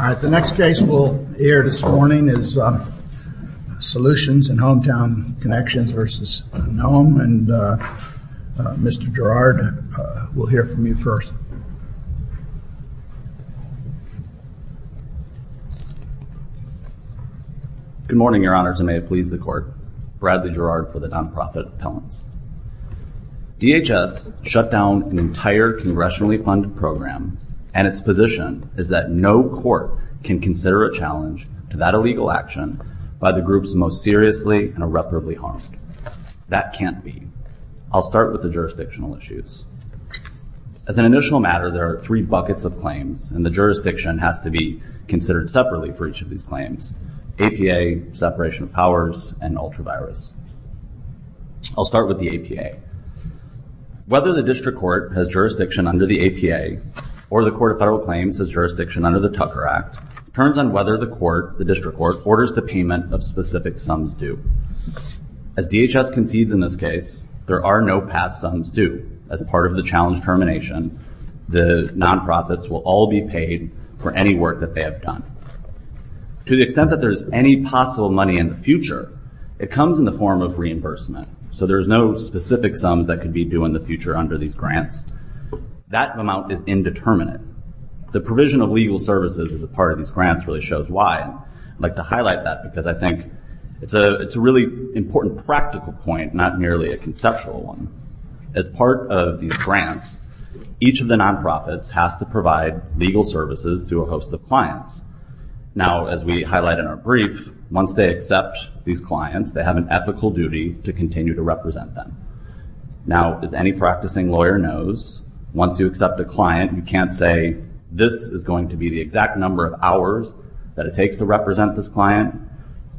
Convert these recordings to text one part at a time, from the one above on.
The next case we'll hear this morning is Solutions in Hometown Connections v. Kristi Noem and Mr. Gerard will hear from you first. Good morning, Your Honors, and may it please the Court. Bradley Gerard for the Nonprofit Appellants. DHS shut down an entire congressionally funded program, and its position is that no court can consider a challenge to that illegal action by the groups most seriously and irreparably harmed. That can't be. I'll start with the jurisdictional issues. As an initial matter, there are three buckets of claims, and the jurisdiction has to be considered separately for each of these claims. APA, separation of powers, and ultra-virus. I'll start with the APA. Whether the District Court has jurisdiction under the APA, or the Court of Federal Claims has jurisdiction under the Tucker Act, turns on whether the District Court orders the payment of specific sums due. As DHS concedes in this case, there are no past sums due. As part of the challenge termination, the nonprofits will all be paid for any work that they have done. To the extent that there's any possible money in the future, it comes in the form of reimbursement. There's no specific sums that could be due in the future under these grants. That amount is indeterminate. The provision of legal services as a part of these grants really shows why. I'd like to highlight that, because I think it's a really important practical point, not merely a conceptual one. As part of these grants, each of the nonprofits has to provide legal services to a host of clients. As we highlight in our brief, once they accept these clients, they have an ethical duty to continue to represent them. As any practicing lawyer knows, once you accept a client, you can't say, this is going to be the exact number of hours that it takes to represent this client.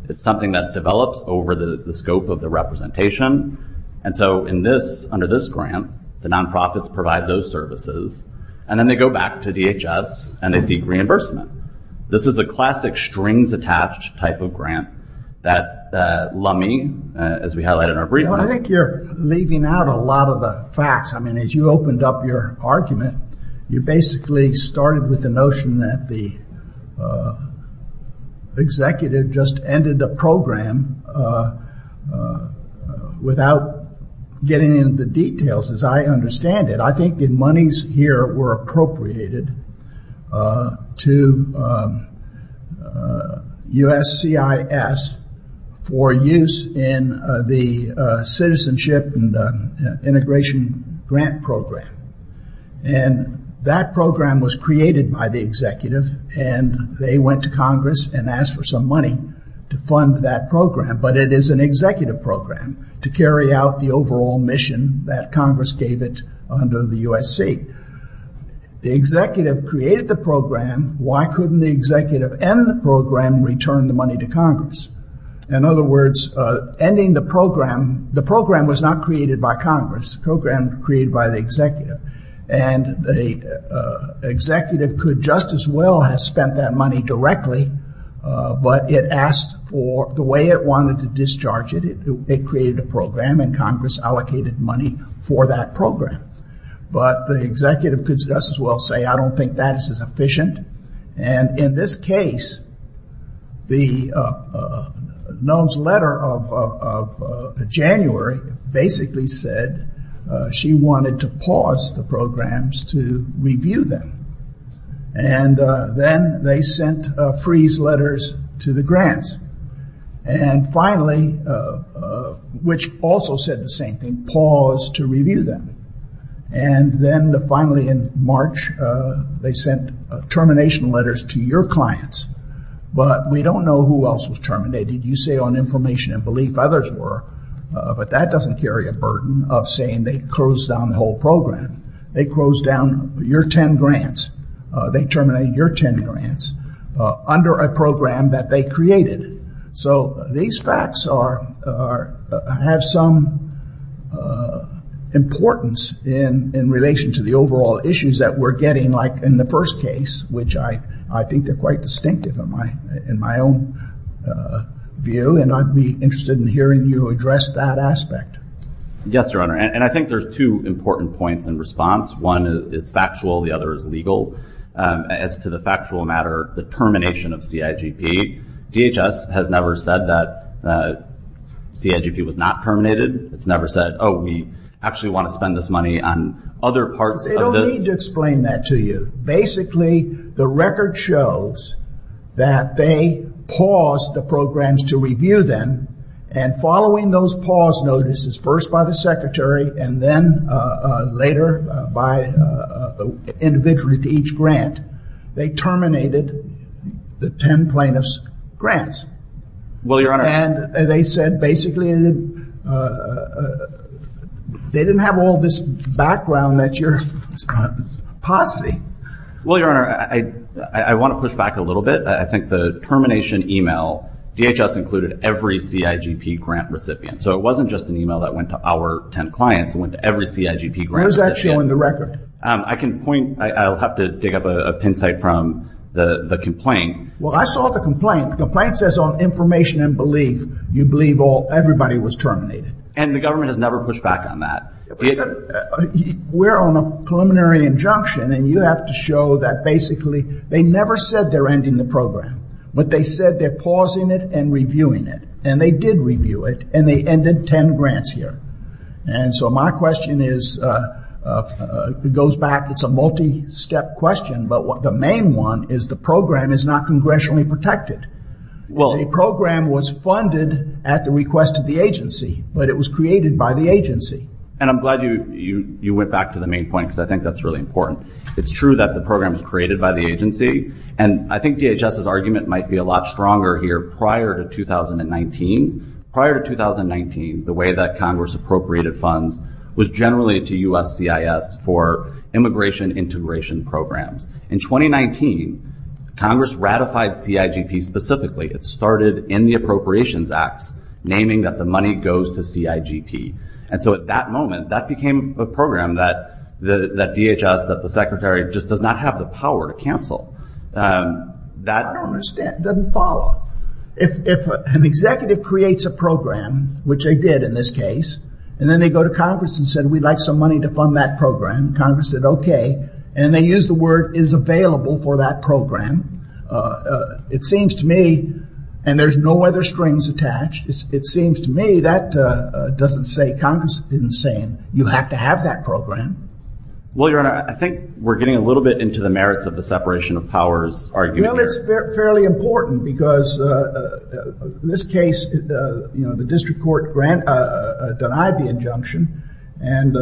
It's something that develops over the scope of the representation. Under this grant, the nonprofits provide those services. Then they go back to DHS, and they seek reimbursement. This is a classic strings-attached type of grant that LUMMI, as we highlighted in our brief... I think you're leaving out a lot of the facts. As you opened up your argument, you basically started with the notion that the executive just ended a program without getting into the details, as I understand it. I think the monies here were appropriated to USCIS for use in the citizenship and integration grant program. That program was created by the executive. They went to Congress and asked for some money to fund that program. It is an executive program to carry out the overall mission that Congress gave it under the USC. The executive created the program. Why couldn't the executive end the program and return the money to Congress? In other words, ending the program... The program was not created by Congress. The program was created by the executive. The executive could just as well have spent that money directly, but it asked for the way it wanted to discharge it. It created a program, and Congress allocated money for that program. The executive could just as well say, I don't think that is efficient. In this case, the loans letter of January basically said she wanted to pause the programs to review them. Then they sent freeze letters to the grants. Finally, which also said the same thing, pause to review them. Then finally in March, they sent termination letters to your clients. We don't know who else was terminated. You say on information and belief, others were, but that doesn't carry a burden of saying they closed down the whole program. They closed down your 10 grants. They terminated your 10 grants under a program that they created. These facts have some importance in relation to the overall issues that we're getting like in the first case, which I think they're quite distinctive in my own view. I'd be interested in hearing you address that aspect. Yes, Your Honor. I think there's two important points in response. One is factual, the other is legal. As to the factual matter, the termination of CIGP, DHS has never said that CIGP was not terminated. It's never said, oh, we actually want to spend this money on other parts of this. They don't need to explain that to you. Basically, the record shows that they paused the programs to review them. Following those pause notices, first by the secretary and then later individually to each grant, they terminated the 10 plaintiffs' grants. Well, Your Honor. They said basically they didn't have all this background that you're positing. Well, Your Honor, I want to push back a little bit. I think the termination email, DHS included every CIGP grant recipient. It wasn't just an email that went to our 10 clients. It went to every CIGP grant recipient. Where's that showing the record? I'll have to dig up a pin site from the complaint. Well, I saw the complaint. The complaint says on information and belief, you believe everybody was terminated. The government has never pushed back on that. We're on a preliminary injunction. You have to show that basically they never said they're ending the program, but they said they're pausing it and reviewing it. They did review it. They ended 10 grants here. My question goes back. It's a multi-step question, but the main one is the program is not congressionally protected. The program was funded at the request of the agency, but it was created by the agency. I'm glad you went back to the main point because I think that's really important. It's true that the program was created by the agency. I think DHS's argument might be a lot stronger here. Prior to 2019, the way that Congress appropriated funds was generally to USCIS for immigration integration programs. In 2019, Congress ratified CIGP specifically. It started in the Appropriations Act, naming that the money goes to CIGP. At that moment, that became a program that DHS, the secretary, just does not have the power to cancel. I don't understand. It doesn't follow. If an executive creates a program, which they did in this case, and then they go to Congress and said, we'd like some money to fund that program. Congress said, okay, and they use the word is available for that program. It seems to me, and there's no other strings attached, it seems to me that doesn't say Congress isn't saying, you have to have that program. Well, Your Honor, I think we're getting a little bit into the merits of the separation of powers argument here. Well, it's fairly important because in this case, the district court denied the injunction and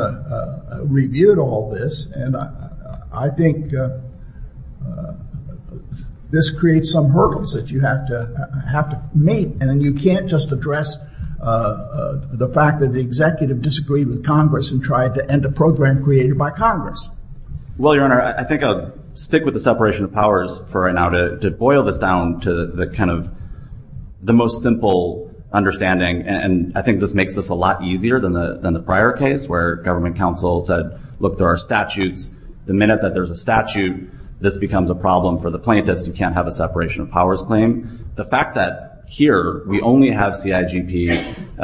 reviewed all this. I think this creates some hurdles that you have to meet. And then you can't just address the fact that the executive disagreed with Congress and tried to end a program created by Congress. Well, Your Honor, I think I'll stick with the separation of powers for right now to boil this down to the most simple understanding. And I think this makes this a lot easier than the prior case where government counsel said, look, there are statutes. The minute that there's a statute, this becomes a problem for the plaintiffs. You can't have a separation of powers claim. The fact that here we only have CIGP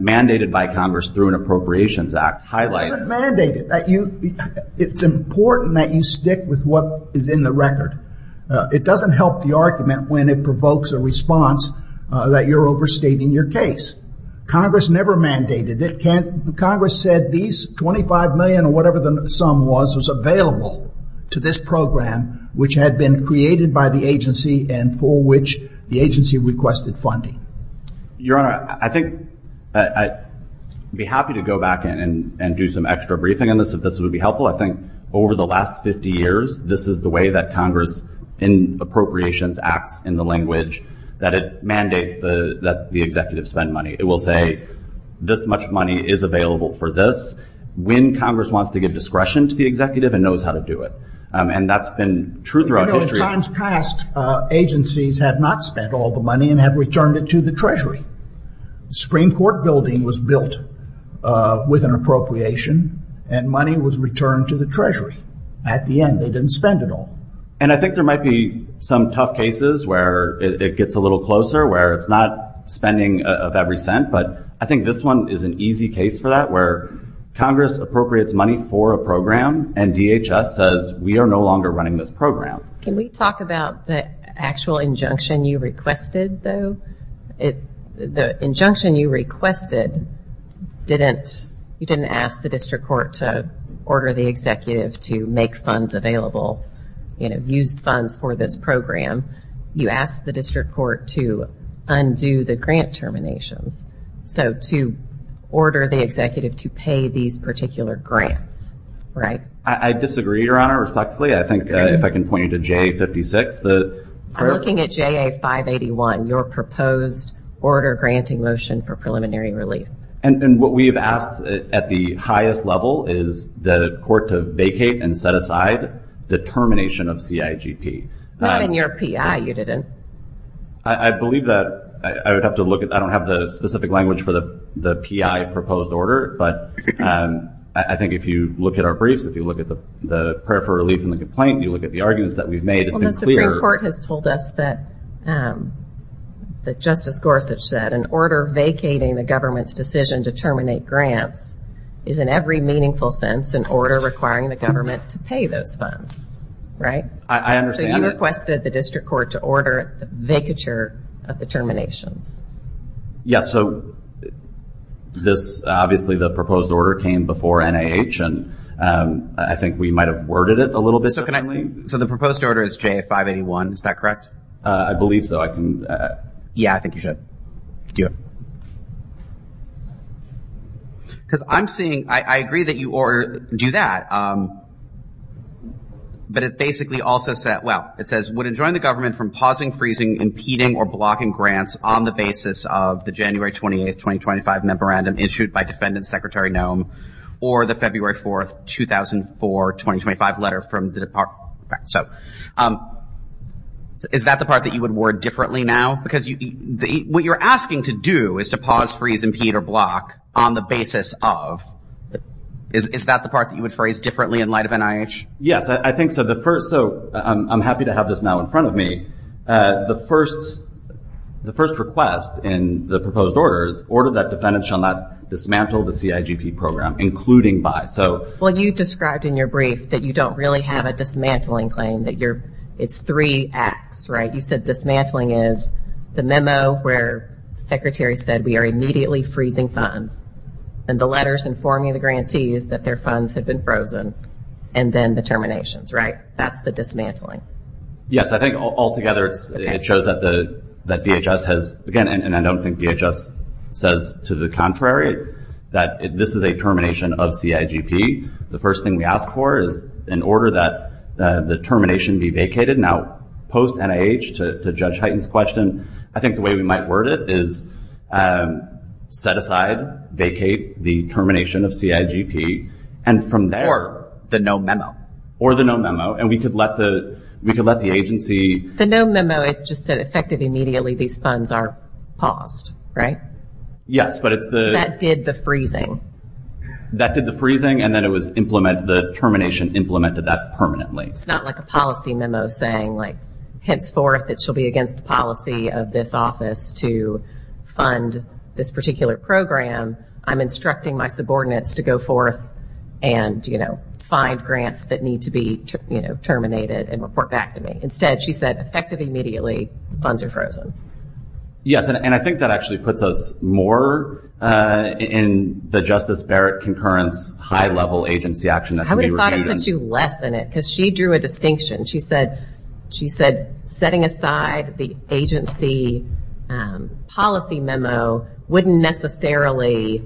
mandated by Congress through an Appropriations Act highlights... It doesn't mandate it. It's important that you stick with what is in the record. It doesn't help the argument when it provokes a response that you're overstating your case. Congress never mandated it. Congress said these $25 million or whatever the sum was, was available to this program, which had been created by the agency and for which the agency requested funding. Your Honor, I think... I'd be happy to go back and do some extra briefing on this if this would be helpful. I think over the last 50 years, this is the way that Congress in Appropriations Acts, in the language that it mandates that the executive spend money. It will say, this much money is available for this when Congress wants to give discretion to the executive and knows how to do it. And that's been true throughout history. Agencies have not spent all the money and have returned it to the Treasury. Supreme Court building was built with an appropriation and money was returned to the Treasury. At the end, they didn't spend it all. And I think there might be some tough cases where it gets a little closer, where it's not spending of every cent. But I think this one is an easy case for that where Congress appropriates money for a program and DHS says, we are no longer running this program. Can we talk about the actual injunction you requested though? The injunction you requested, you didn't ask the District Court to order the executive to make funds available, use funds for this program. You asked the District Court to undo the grant terminations. So to order the executive to pay these particular grants, right? I disagree, Your Honor, respectfully. I think if I can point you to JA-56. I'm looking at JA-581, your proposed order granting motion for preliminary relief. And what we have asked at the highest level is the court to vacate and set aside the termination of CIGP. Not in your PI, you didn't. I believe that I would have to look at, I don't have the specific language for the PI proposed order. But I think if you look at our briefs, if you look at the prayer for relief complaint, if you look at the arguments that we've made, it's been clear. Well, the Supreme Court has told us that Justice Gorsuch said an order vacating the government's decision to terminate grants is in every meaningful sense an order requiring the government to pay those funds, right? I understand that. So you requested the District Court to order the vacature of the terminations. Yes, so this, obviously the proposed order came before NIH. And I think we might have worded it a little bit differently. So the proposed order is J581, is that correct? I believe so. Yeah, I think you should. Because I'm seeing, I agree that you do that. But it basically also said, well, it says, would enjoin the government from pausing, freezing, impeding, or blocking grants on the basis of the January 28, 2025 memorandum issued by Defendant Secretary Noem or the February 4, 2004, 2025 letter from the Department. So is that the part that you would word differently now? Because what you're asking to do is to pause, freeze, impede, or block on the basis of, is that the part that you would phrase differently in light of NIH? Yes, I think so. So I'm happy to have this now in front of me. The first request in the proposed order is order that Defendant shall not dismantle the CIGP program. Including by, so. Well, you described in your brief that you don't really have a dismantling claim. It's three acts, right? You said dismantling is the memo where the Secretary said we are immediately freezing funds. And the letters informing the grantees that their funds have been frozen. And then the terminations, right? That's the dismantling. Yes, I think all together it shows that DHS has, again, and I don't think DHS says to the contrary, the termination of CIGP. The first thing we ask for is in order that the termination be vacated. Now, post-NIH, to Judge Hyten's question, I think the way we might word it is set aside, vacate the termination of CIGP. And from there. Or the no memo. Or the no memo. And we could let the agency. The no memo, it just said effective immediately these funds are paused, right? Yes, but it's the. That did the freezing and then it was implemented, the termination implemented that permanently. It's not like a policy memo saying like henceforth it shall be against the policy of this office to fund this particular program. I'm instructing my subordinates to go forth and, you know, find grants that need to be, you know, terminated and report back to me. Instead, she said effective immediately funds are frozen. Yes, and I think that actually puts us more on the concurrence, high level agency action. I would have thought it would put you less in it because she drew a distinction. She said setting aside the agency policy memo wouldn't necessarily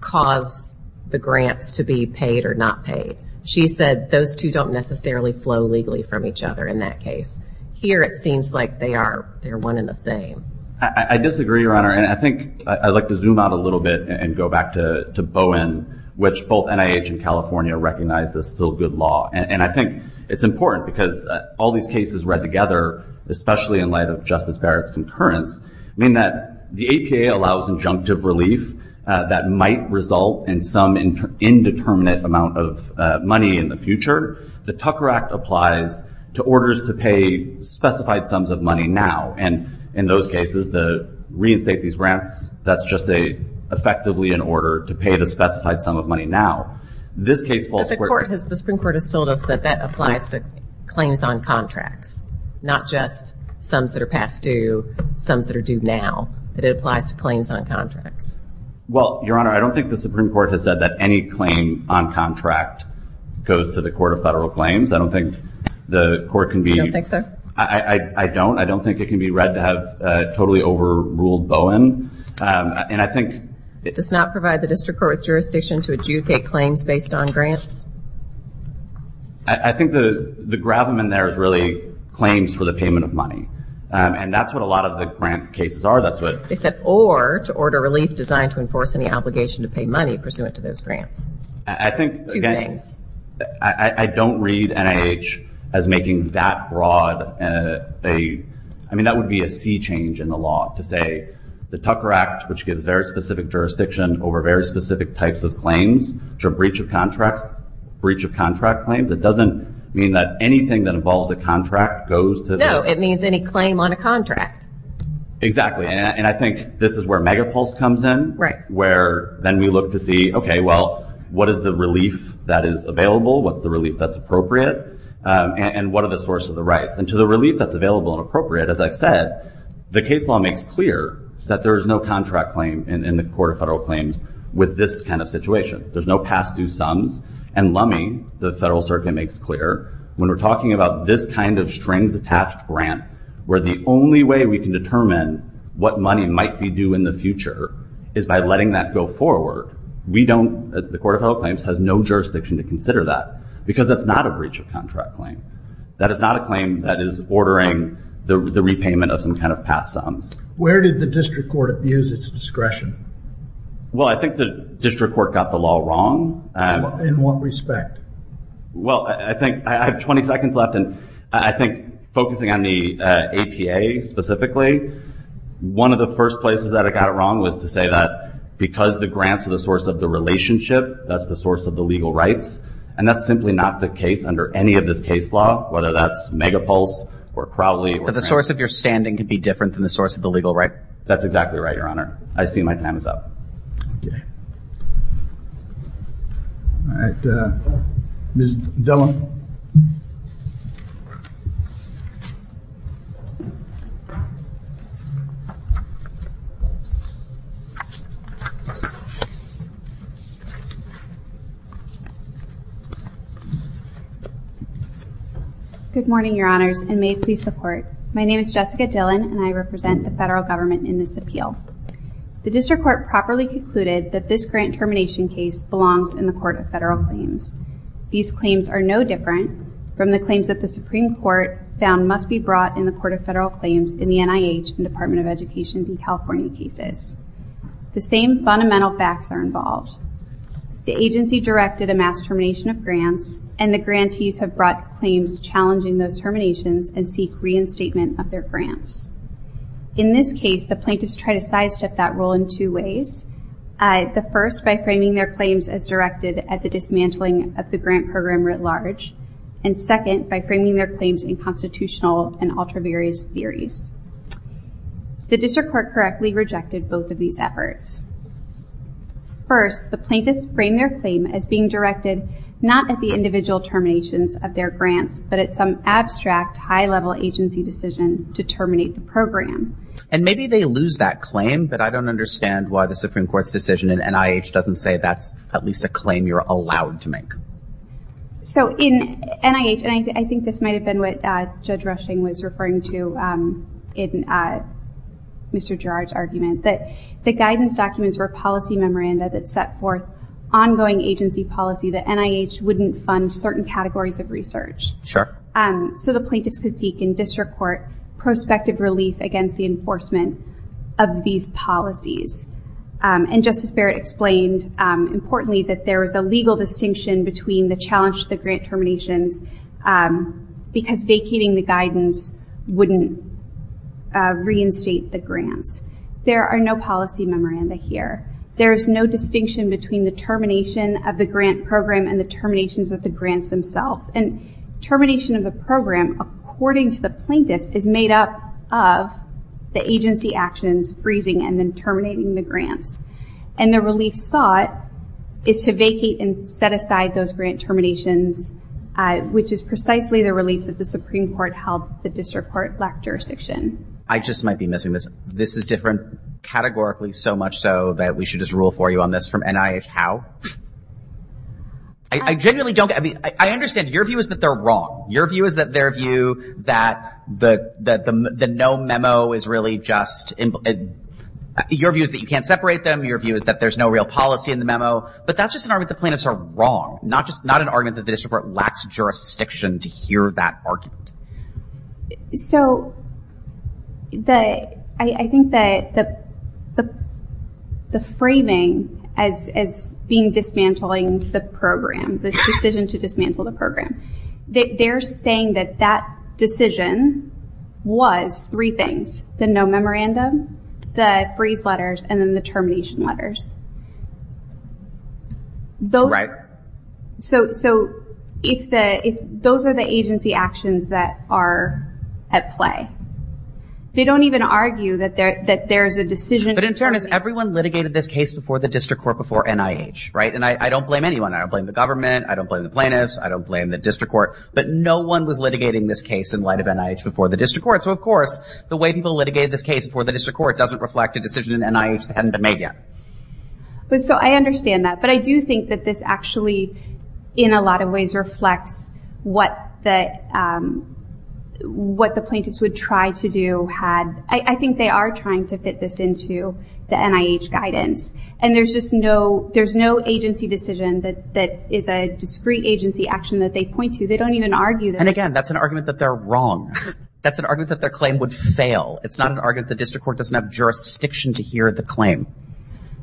cause the grants to be paid or not paid. She said those two don't necessarily flow legally from each other in that case. Here it seems like they are one and the same. I disagree, Your Honor. I would like to go back to Bowen which both NIH and California recognized as still good law. I think it's important because all these cases read together, especially in light of Justice Barrett's concurrence, mean that the APA allows injunctive relief that might result in some indeterminate amount of money in the future. The Tucker Act applies to orders to pay specified sums of money now. In those cases, the reinstate these grants, that's just effectively an order to pay the specified sum of money now. The Supreme Court has told us that that applies to claims on contracts, not just sums that are past due, sums that are due now. It applies to claims on contracts. Well, Your Honor, I don't think the Supreme Court has said that any claim on contract goes to the Court of Federal Claims. I don't think the court can be... You don't think so? I don't. I don't think it can be read to have totally overruled Bowen. And I think... It does not provide the district court with jurisdiction to adjudicate claims based on grants? I think the gravamen there is really claims for the payment of money. And that's what a lot of the grant cases are. They said, or to order relief designed to enforce any obligation to pay money pursuant to those grants. Two things. I don't read NIH as making that broad a... I mean, that would be a sea change in the law to say the Tucker Act, which gives very specific jurisdiction over very specific types of claims to a breach of contract, breach of contract claims, it doesn't mean that anything that involves a contract goes to... No, it means any claim on a contract. Exactly. And I think this is where Megapulse comes in. Right. Where then we look to see, okay, well, what is the relief that is available? What's the relief that's appropriate? And what are the source of the rights? And to the relief that's available and appropriate, as I've said, the case law makes clear that there is no contract claim in the Court of Federal Claims with this kind of situation. There's no past due sums. And LUMMI, the Federal Circuit, makes clear when we're talking about this kind of strings attached grant where the only way we can determine what money might be due in the future in the Court of Federal Claims has no jurisdiction to consider that because that's not a breach of contract claim. That is not a claim that is ordering the repayment of some kind of past sums. Where did the district court abuse its discretion? Well, I think the district court got the law wrong. In what respect? Well, I think... I have 20 seconds left and I think focusing on the APA specifically, one of the first places that it got it wrong was to say that that's the source of the legal rights. And that's simply not the case under any of this case law, whether that's Megapulse or Crowley. But the source of your standing can be different than the source of the legal rights? That's exactly right, Your Honor. I see my time is up. Okay. All right. Ms. Dillon. Good morning, Your Honors, and may it please the Court. My name is Jessica Dillon and I represent the federal government in this appeal. The district court properly concluded that this grant termination case belongs in the Court of Federal Claims. These claims are no different from the claims that the Supreme Court found must be brought in the Court of Federal Claims in the NIH and Department of Education in California cases. The same fundamental facts are involved. The agency directed a mass termination of grants and the grantees have brought claims challenging those terminations and seek reinstatement of their grants. In this case, the plaintiffs tried to sidestep that rule in two ways. The first, by framing their claims as directed at the dismantling of the grant program writ large. And second, by framing their claims in constitutional and ultra-various theories. The district court correctly rejected both of these efforts. First, the plaintiffs framed their claim as being directed not at the individual terminations of their grants, but at some abstract, high-level agency decision to terminate the program. And maybe they lose that claim, but I don't understand why the Supreme Court's decision in NIH doesn't say that's at least a claim you're allowed to make. So in NIH, and I think this might have been one of the most recent cases, the guidance documents were policy memoranda that set forth ongoing agency policy that NIH wouldn't fund certain categories of research. So the plaintiffs could seek in district court prospective relief against the enforcement of these policies. And Justice Barrett explained importantly that there was a legal distinction between the challenge to the grant terminations because vacating the guidance policy memoranda here. There's no distinction between the termination of the grant program and the terminations of the grants themselves. And termination of the program, according to the plaintiffs, is made up of the agency actions, freezing and then terminating the grants. And the relief sought is to vacate and set aside those grant terminations, which is precisely the relief that the Supreme Court held and I believe so much so that we should just rule for you on this from NIH, how? I genuinely don't, I mean, I understand your view is that they're wrong. Your view is that their view that the no memo is really just, your view is that you can't separate them, your view is that there's no real policy in the memo, but that's just an argument the plaintiffs are wrong, not just, not an argument that the district court lacks jurisdiction to hear that argument. So, I think that the framing as being dismantling the program, the decision to dismantle the program, they're saying that that decision was three things, the no memorandum, the freeze letters, and then the termination letters. Right. So, if those are the agency actions that are at play, they don't even argue that there's a decision But in fairness, everyone litigated this case before the district court, before NIH, right? And I don't blame anyone, I don't blame the government, I don't blame the plaintiffs, I don't blame the district court, but no one was litigating this case in light of NIH before the district court. So, of course, the way people litigated this case before the district court doesn't reflect a decision in NIH that hadn't been made yet. So, I understand that, but I do think that this actually, in a lot of ways, reflects what the what the plaintiffs would try to do had I think they are trying to fit this into the NIH guidance. And there's just no there's no agency decision that is a discrete agency action that they point to. They don't even argue that And again, that's an argument that they're wrong. That's an argument that their claim would fail. It's not an argument that the district court doesn't have jurisdiction to hear the claim.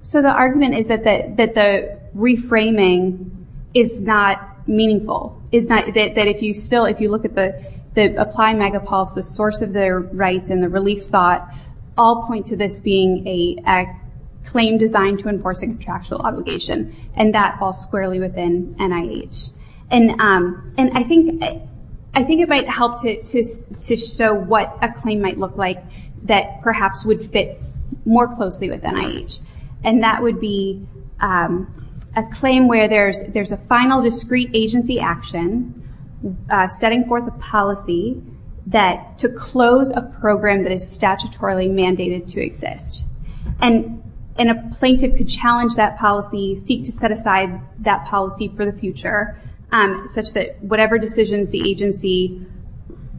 So, the argument is that the reframing is not meaningful is not that if you still if you look at the the apply megapulse the source of their rights and the relief sought all point to this being a claim designed to enforce a contractual obligation. And that falls squarely within NIH. And I think I think it might help to show what a claim might look like that perhaps would fit more closely with NIH. And that would be a claim where there's there's a final discrete agency action setting forth a policy that to close a program that is statutorily mandated to exist. And a plaintiff could challenge that policy seek to set aside that policy for the future such that whatever decisions the agency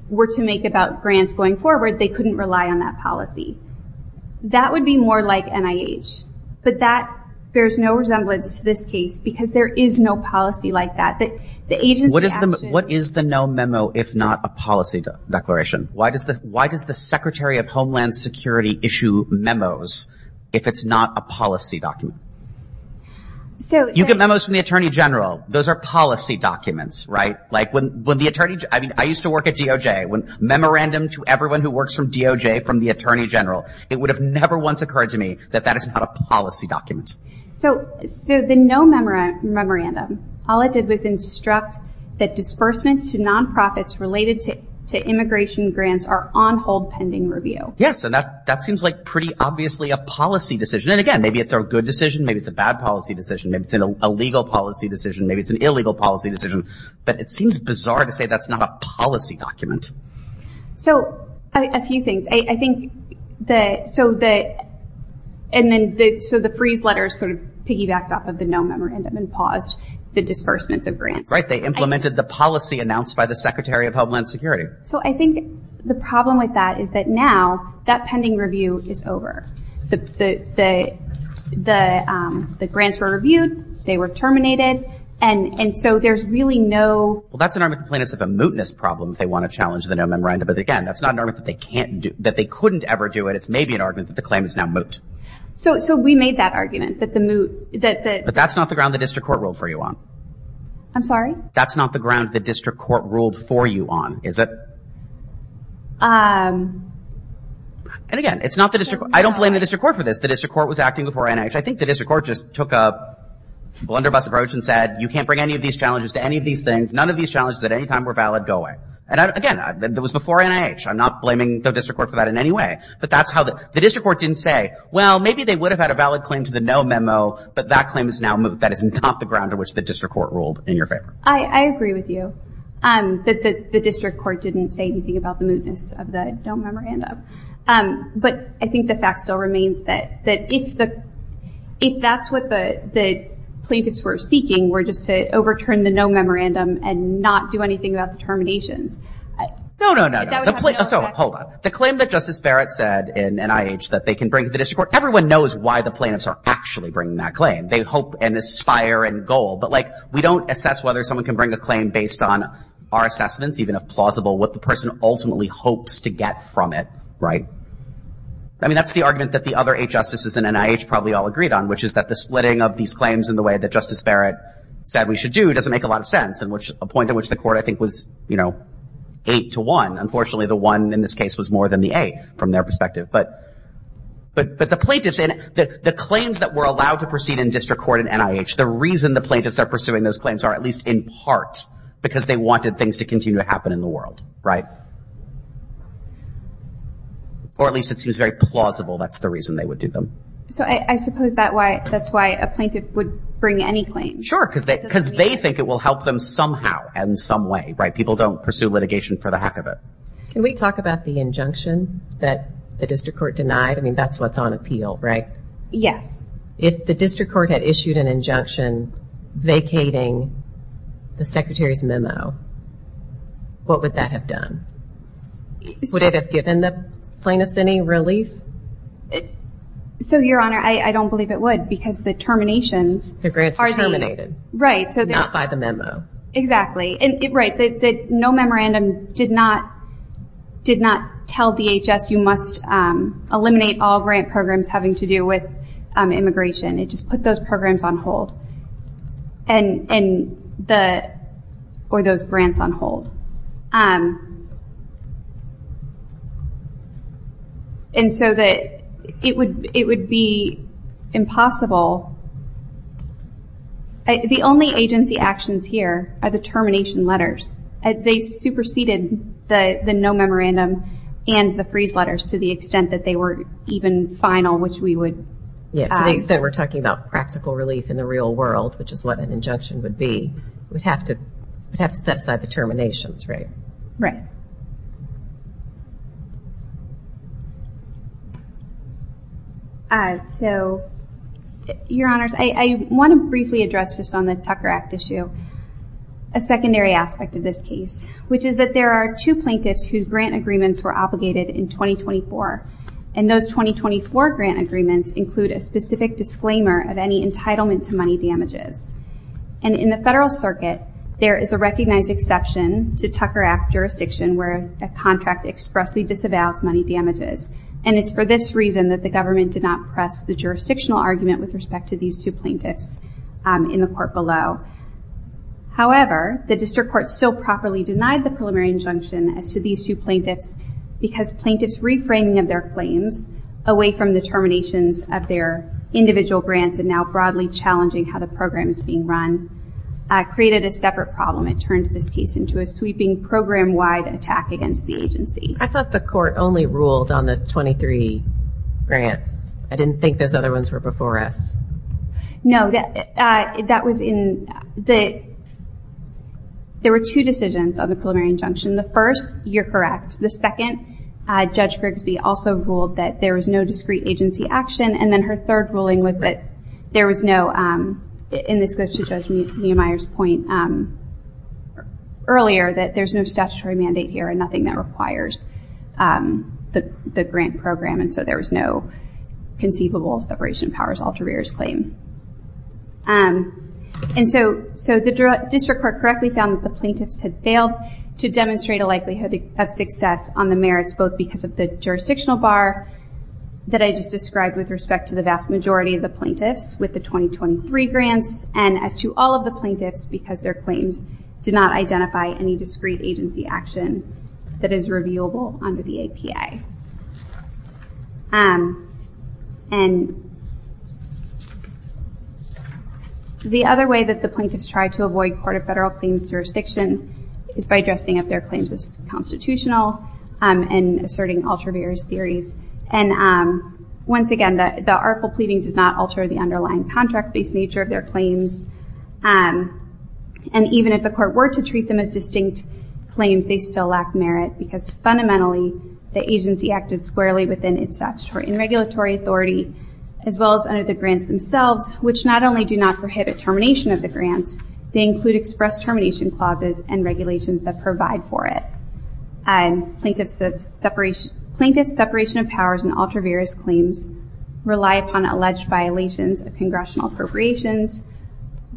were to make about grants going forward they couldn't rely on that policy. That would be more like NIH. But that bears no resemblance to this case because there is no policy like that. The agency action What is the no memo if not a policy declaration? Why does the Secretary of Homeland Security issue memos if it's not a policy document? You get memos from the Attorney General. Those are policy documents, right? Like when the Attorney I used to work at DOJ. Memorandum to everyone who works for DOJ from the Attorney General. It would have never once occurred to me that that is not a policy document. So the no memorandum all it did was instruct that disbursements to non-profits related to immigration grants are on hold pending review. Yes. And that seems like pretty obviously a policy decision. And again, maybe it's a good decision. Maybe it's a bad policy decision. Maybe it's an illegal policy decision. Maybe it's an illegal policy decision. But it seems bizarre to say that's not a policy document. So a few things. I think that so that and then so the freeze letters sort of piggybacked off of the no memorandum and paused the disbursements of grants. Right. They implemented the policy announced by the Secretary of Homeland Security. So I think the problem with that is that now that pending review is over. the the grants were reviewed. They were terminated. And and so there's really no Well that's an argument that's a mootness problem if they want to challenge the no memorandum. But again, that's not an argument that they can't do that they couldn't ever do it. It's maybe an argument that the claim is now moot. So we made that argument that the moot that that But that's not the ground the district court ruled for you on. I'm sorry? That's not the ground the district court ruled for you on, is it? Um And again, it's not the district court. I don't blame the district court for this. The district court was acting before NIH. I think the district court just took a blunderbuss approach and said you can't bring any of these challenges to any of these things. None of these challenges at any time were valid. Go away. And again, it was before NIH. I'm not blaming the district court for that in any way. But that's how the the district court didn't say well, maybe they would have had a valid claim to the no memo, but that claim is now moot. That is not the ground on which the district court ruled in your favor. I agree with you. Um that the district court didn't say anything about the mootness of the no memorandum. Um But I think the fact still remains that that if the if that's what the the plaintiffs were seeking were just to overturn the no memorandum and not do anything about the terminations No, no, no, no. So hold on. The claim that Justice Barrett said in NIH that they can bring to the district court everyone knows why the plaintiffs are actually bringing that claim. They hope and aspire and goal. But like we don't assess whether someone can bring a claim based on our assessments even if plausible what the person ultimately hopes to get from it. Right? I mean that's the argument that the other eight justices in NIH probably all agreed on which is that the splitting of these claims in the way that Justice Barrett said we should do doesn't make a lot of sense and which a point in which the court I think was eight to one. Unfortunately the one in this case was more than the eight from their perspective. But the plaintiffs and the claims that were allowed to proceed in district court in NIH the reason the plaintiffs are pursuing those claims are at least in part because they wanted things to continue to happen in the world. Or at least it seems very plausible that's the reason they would do them. So I suppose that's why a plaintiff would bring any claim. Sure. Because they think it will help them somehow and some way. People don't pursue litigation for the heck of it. Can we talk about the injunction that the district court denied? I mean that's what's on appeal, right? Yes. If the district court had issued an injunction vacating the secretary's memo what would that have done? Would it have given the plaintiffs any relief? So your honor I don't believe it would because the terminations The grants were terminated. Right. Not by the memo. Exactly. Right. No memorandum did not tell DHS you must eliminate all grant programs having to do with immigration. It just put those programs on hold. And the or those grants on hold. And so that it would be impossible. The only agency actions here are the termination letters. They superseded the no memorandum and the freeze letters to the extent that they were even final which we would Yeah. To the extent we're talking about practical relief in the real world which is what an injunction would be we'd have to we'd have to set aside the terminations, right? Right. So your honors I want to briefly address just on the Tucker Act issue a secondary aspect of this case which is that there are two plaintiffs whose grant agreements were obligated in 2024 and those 2024 grant agreements include a specific disclaimer of any entitlement to money damages. And in the Federal Circuit there is a recognized exception to Tucker Act jurisdiction where a contract expressly disavows money damages and it's for this reason that the government did not press the jurisdictional argument with respect to these two plaintiffs in the court below. However, the district court still properly denied the preliminary injunction as to these two plaintiffs because plaintiffs reframing of their claims away from the terminations of their individual grants and now broadly challenging how the program is being run created a separate problem. It turned this case into a sweeping program-wide attack against the agency. I thought the court only ruled on the 23 grants. I didn't think those other ones were before us. No. That was in the... There were two decisions on the preliminary injunction. The first, you're correct. The second, Judge Grigsby also ruled that there was no discrete agency action and then her third ruling was that there was no... And this goes to Judge Neumeier's point earlier that there's no statutory mandate here and nothing that requires the grant program and so there was no conceivable separation of powers after Rear's claim. And so the district court correctly found that the plaintiffs had failed to demonstrate a likelihood of success on the merits both because of the jurisdictional bar that I just described with respect to the vast majority of the plaintiffs with the 2023 grants and as to all of the plaintiffs because their claims did not identify any discrete agency action that is reviewable under the APA. And the other way that the plaintiffs tried to avoid Court of Federal Claims jurisdiction is by addressing up their claims as constitutional and asserting ultraviarious theories and once again, the article pleading does not alter the underlying contract-based nature of their claims and even if the court were to treat them as distinct claims, they still lack merit because fundamentally the agency action is squarely within its statutory and regulatory authority as well as under the grants themselves which not only do not prohibit termination of the grants, they include expressed termination clauses and regulations that provide for it. Plaintiffs' separation of powers and ultraviarious claims rely upon alleged violations of congressional appropriations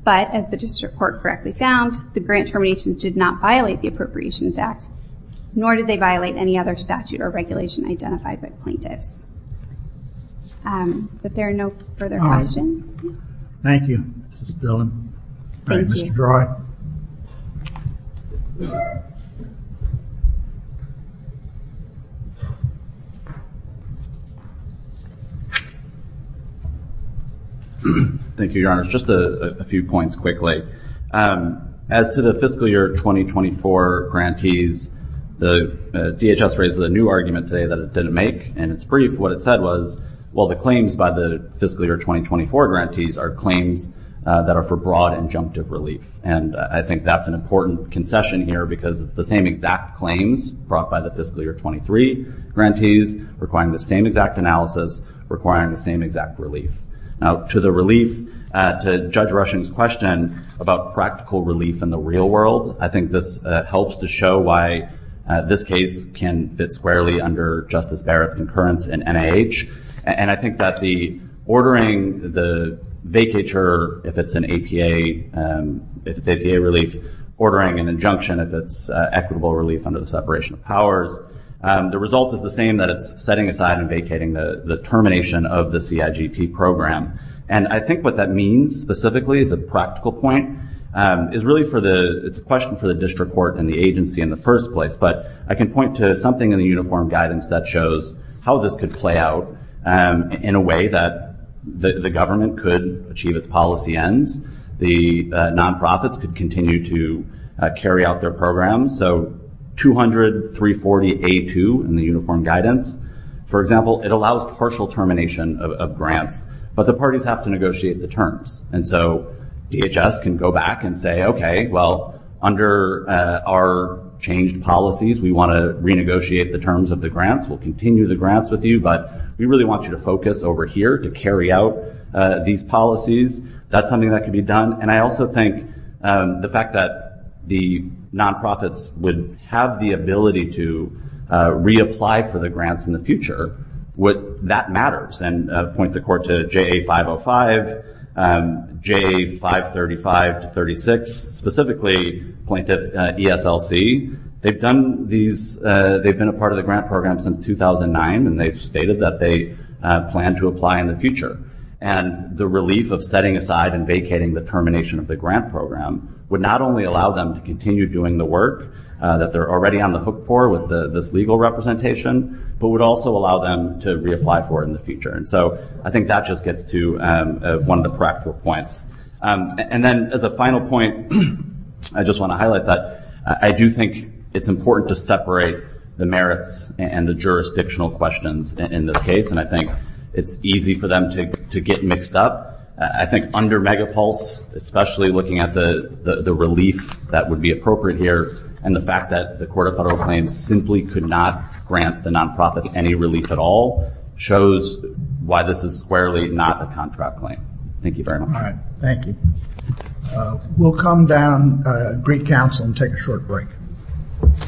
but as the district court correctly found, the grant termination did not violate the Appropriations Act nor did they violate any other statute or regulation identified by plaintiffs. So if there are no further questions. Thank you, Ms. Dillon. Thank you. Mr. Dry. Thank you, Your Honor. Just a few points quickly. As to the fiscal year 2024 grantees, the DHS raises a new article and it's brief. What it said was, well, the claims by the fiscal year 2024 grantees are claims that are for broad injunctive relief and I think that's an important concession here because it's the same exact claims brought by the fiscal year 2023 grantees requiring the same exact analysis, requiring the same exact relief. Now, to the relief, to Judge Rushing's question about practical relief in the real world, I think this helps to show why this case can fit squarely under Justice Barrett's concurrence in NIH and I think that the ordering the vacature if it's an APA, if it's APA relief, ordering an injunction if it's equitable relief under the separation of powers, the result is the same that it's setting aside and vacating the termination of the CIGP program and I think what that means specifically is a practical point is really for the, it's a question for the district court and the agency in the first place but I can point to something in the uniform guidance that shows how this could play out in a way that the government could achieve its policy ends, the non-profits could continue to carry out their programs so 200, 340, A2 in the uniform guidance, for example, it allows partial termination of grants but the parties have to negotiate the terms and so DHS can go back and say, okay, well, under our changed policies we want to renegotiate the terms of the grants, we'll continue the grants with you but we really want you to focus over here to carry out these policies, that's something that can be done and I also think the fact that the non-profits would have the ability to reapply for the grants in the future would, that matters and point the court to JA505, JA535 to 36, specifically the plaintiff ESLC, they've done these, they've been a part of the grant program since 2009 and they've stated that they plan to apply in the future and the relief of setting aside and vacating the termination of the grant program would not only allow them to continue doing the work that they're already on the hook for with this legal representation but would also allow them to reapply for it in the future and so I think that just gets to one of the practical points and then as a final point I just want to highlight that I do think it's important to separate the merits and the jurisdictional questions in this case and I think it's easy for them to get mixed up I think under Megapulse especially looking at the relief that would be appropriate here and the fact that the Court of Federal Claims simply could not grant the non-profits any relief at all shows why this is squarely not a contract claim. Thank you very much. Thank you. We'll come down Greek Council and take a short break.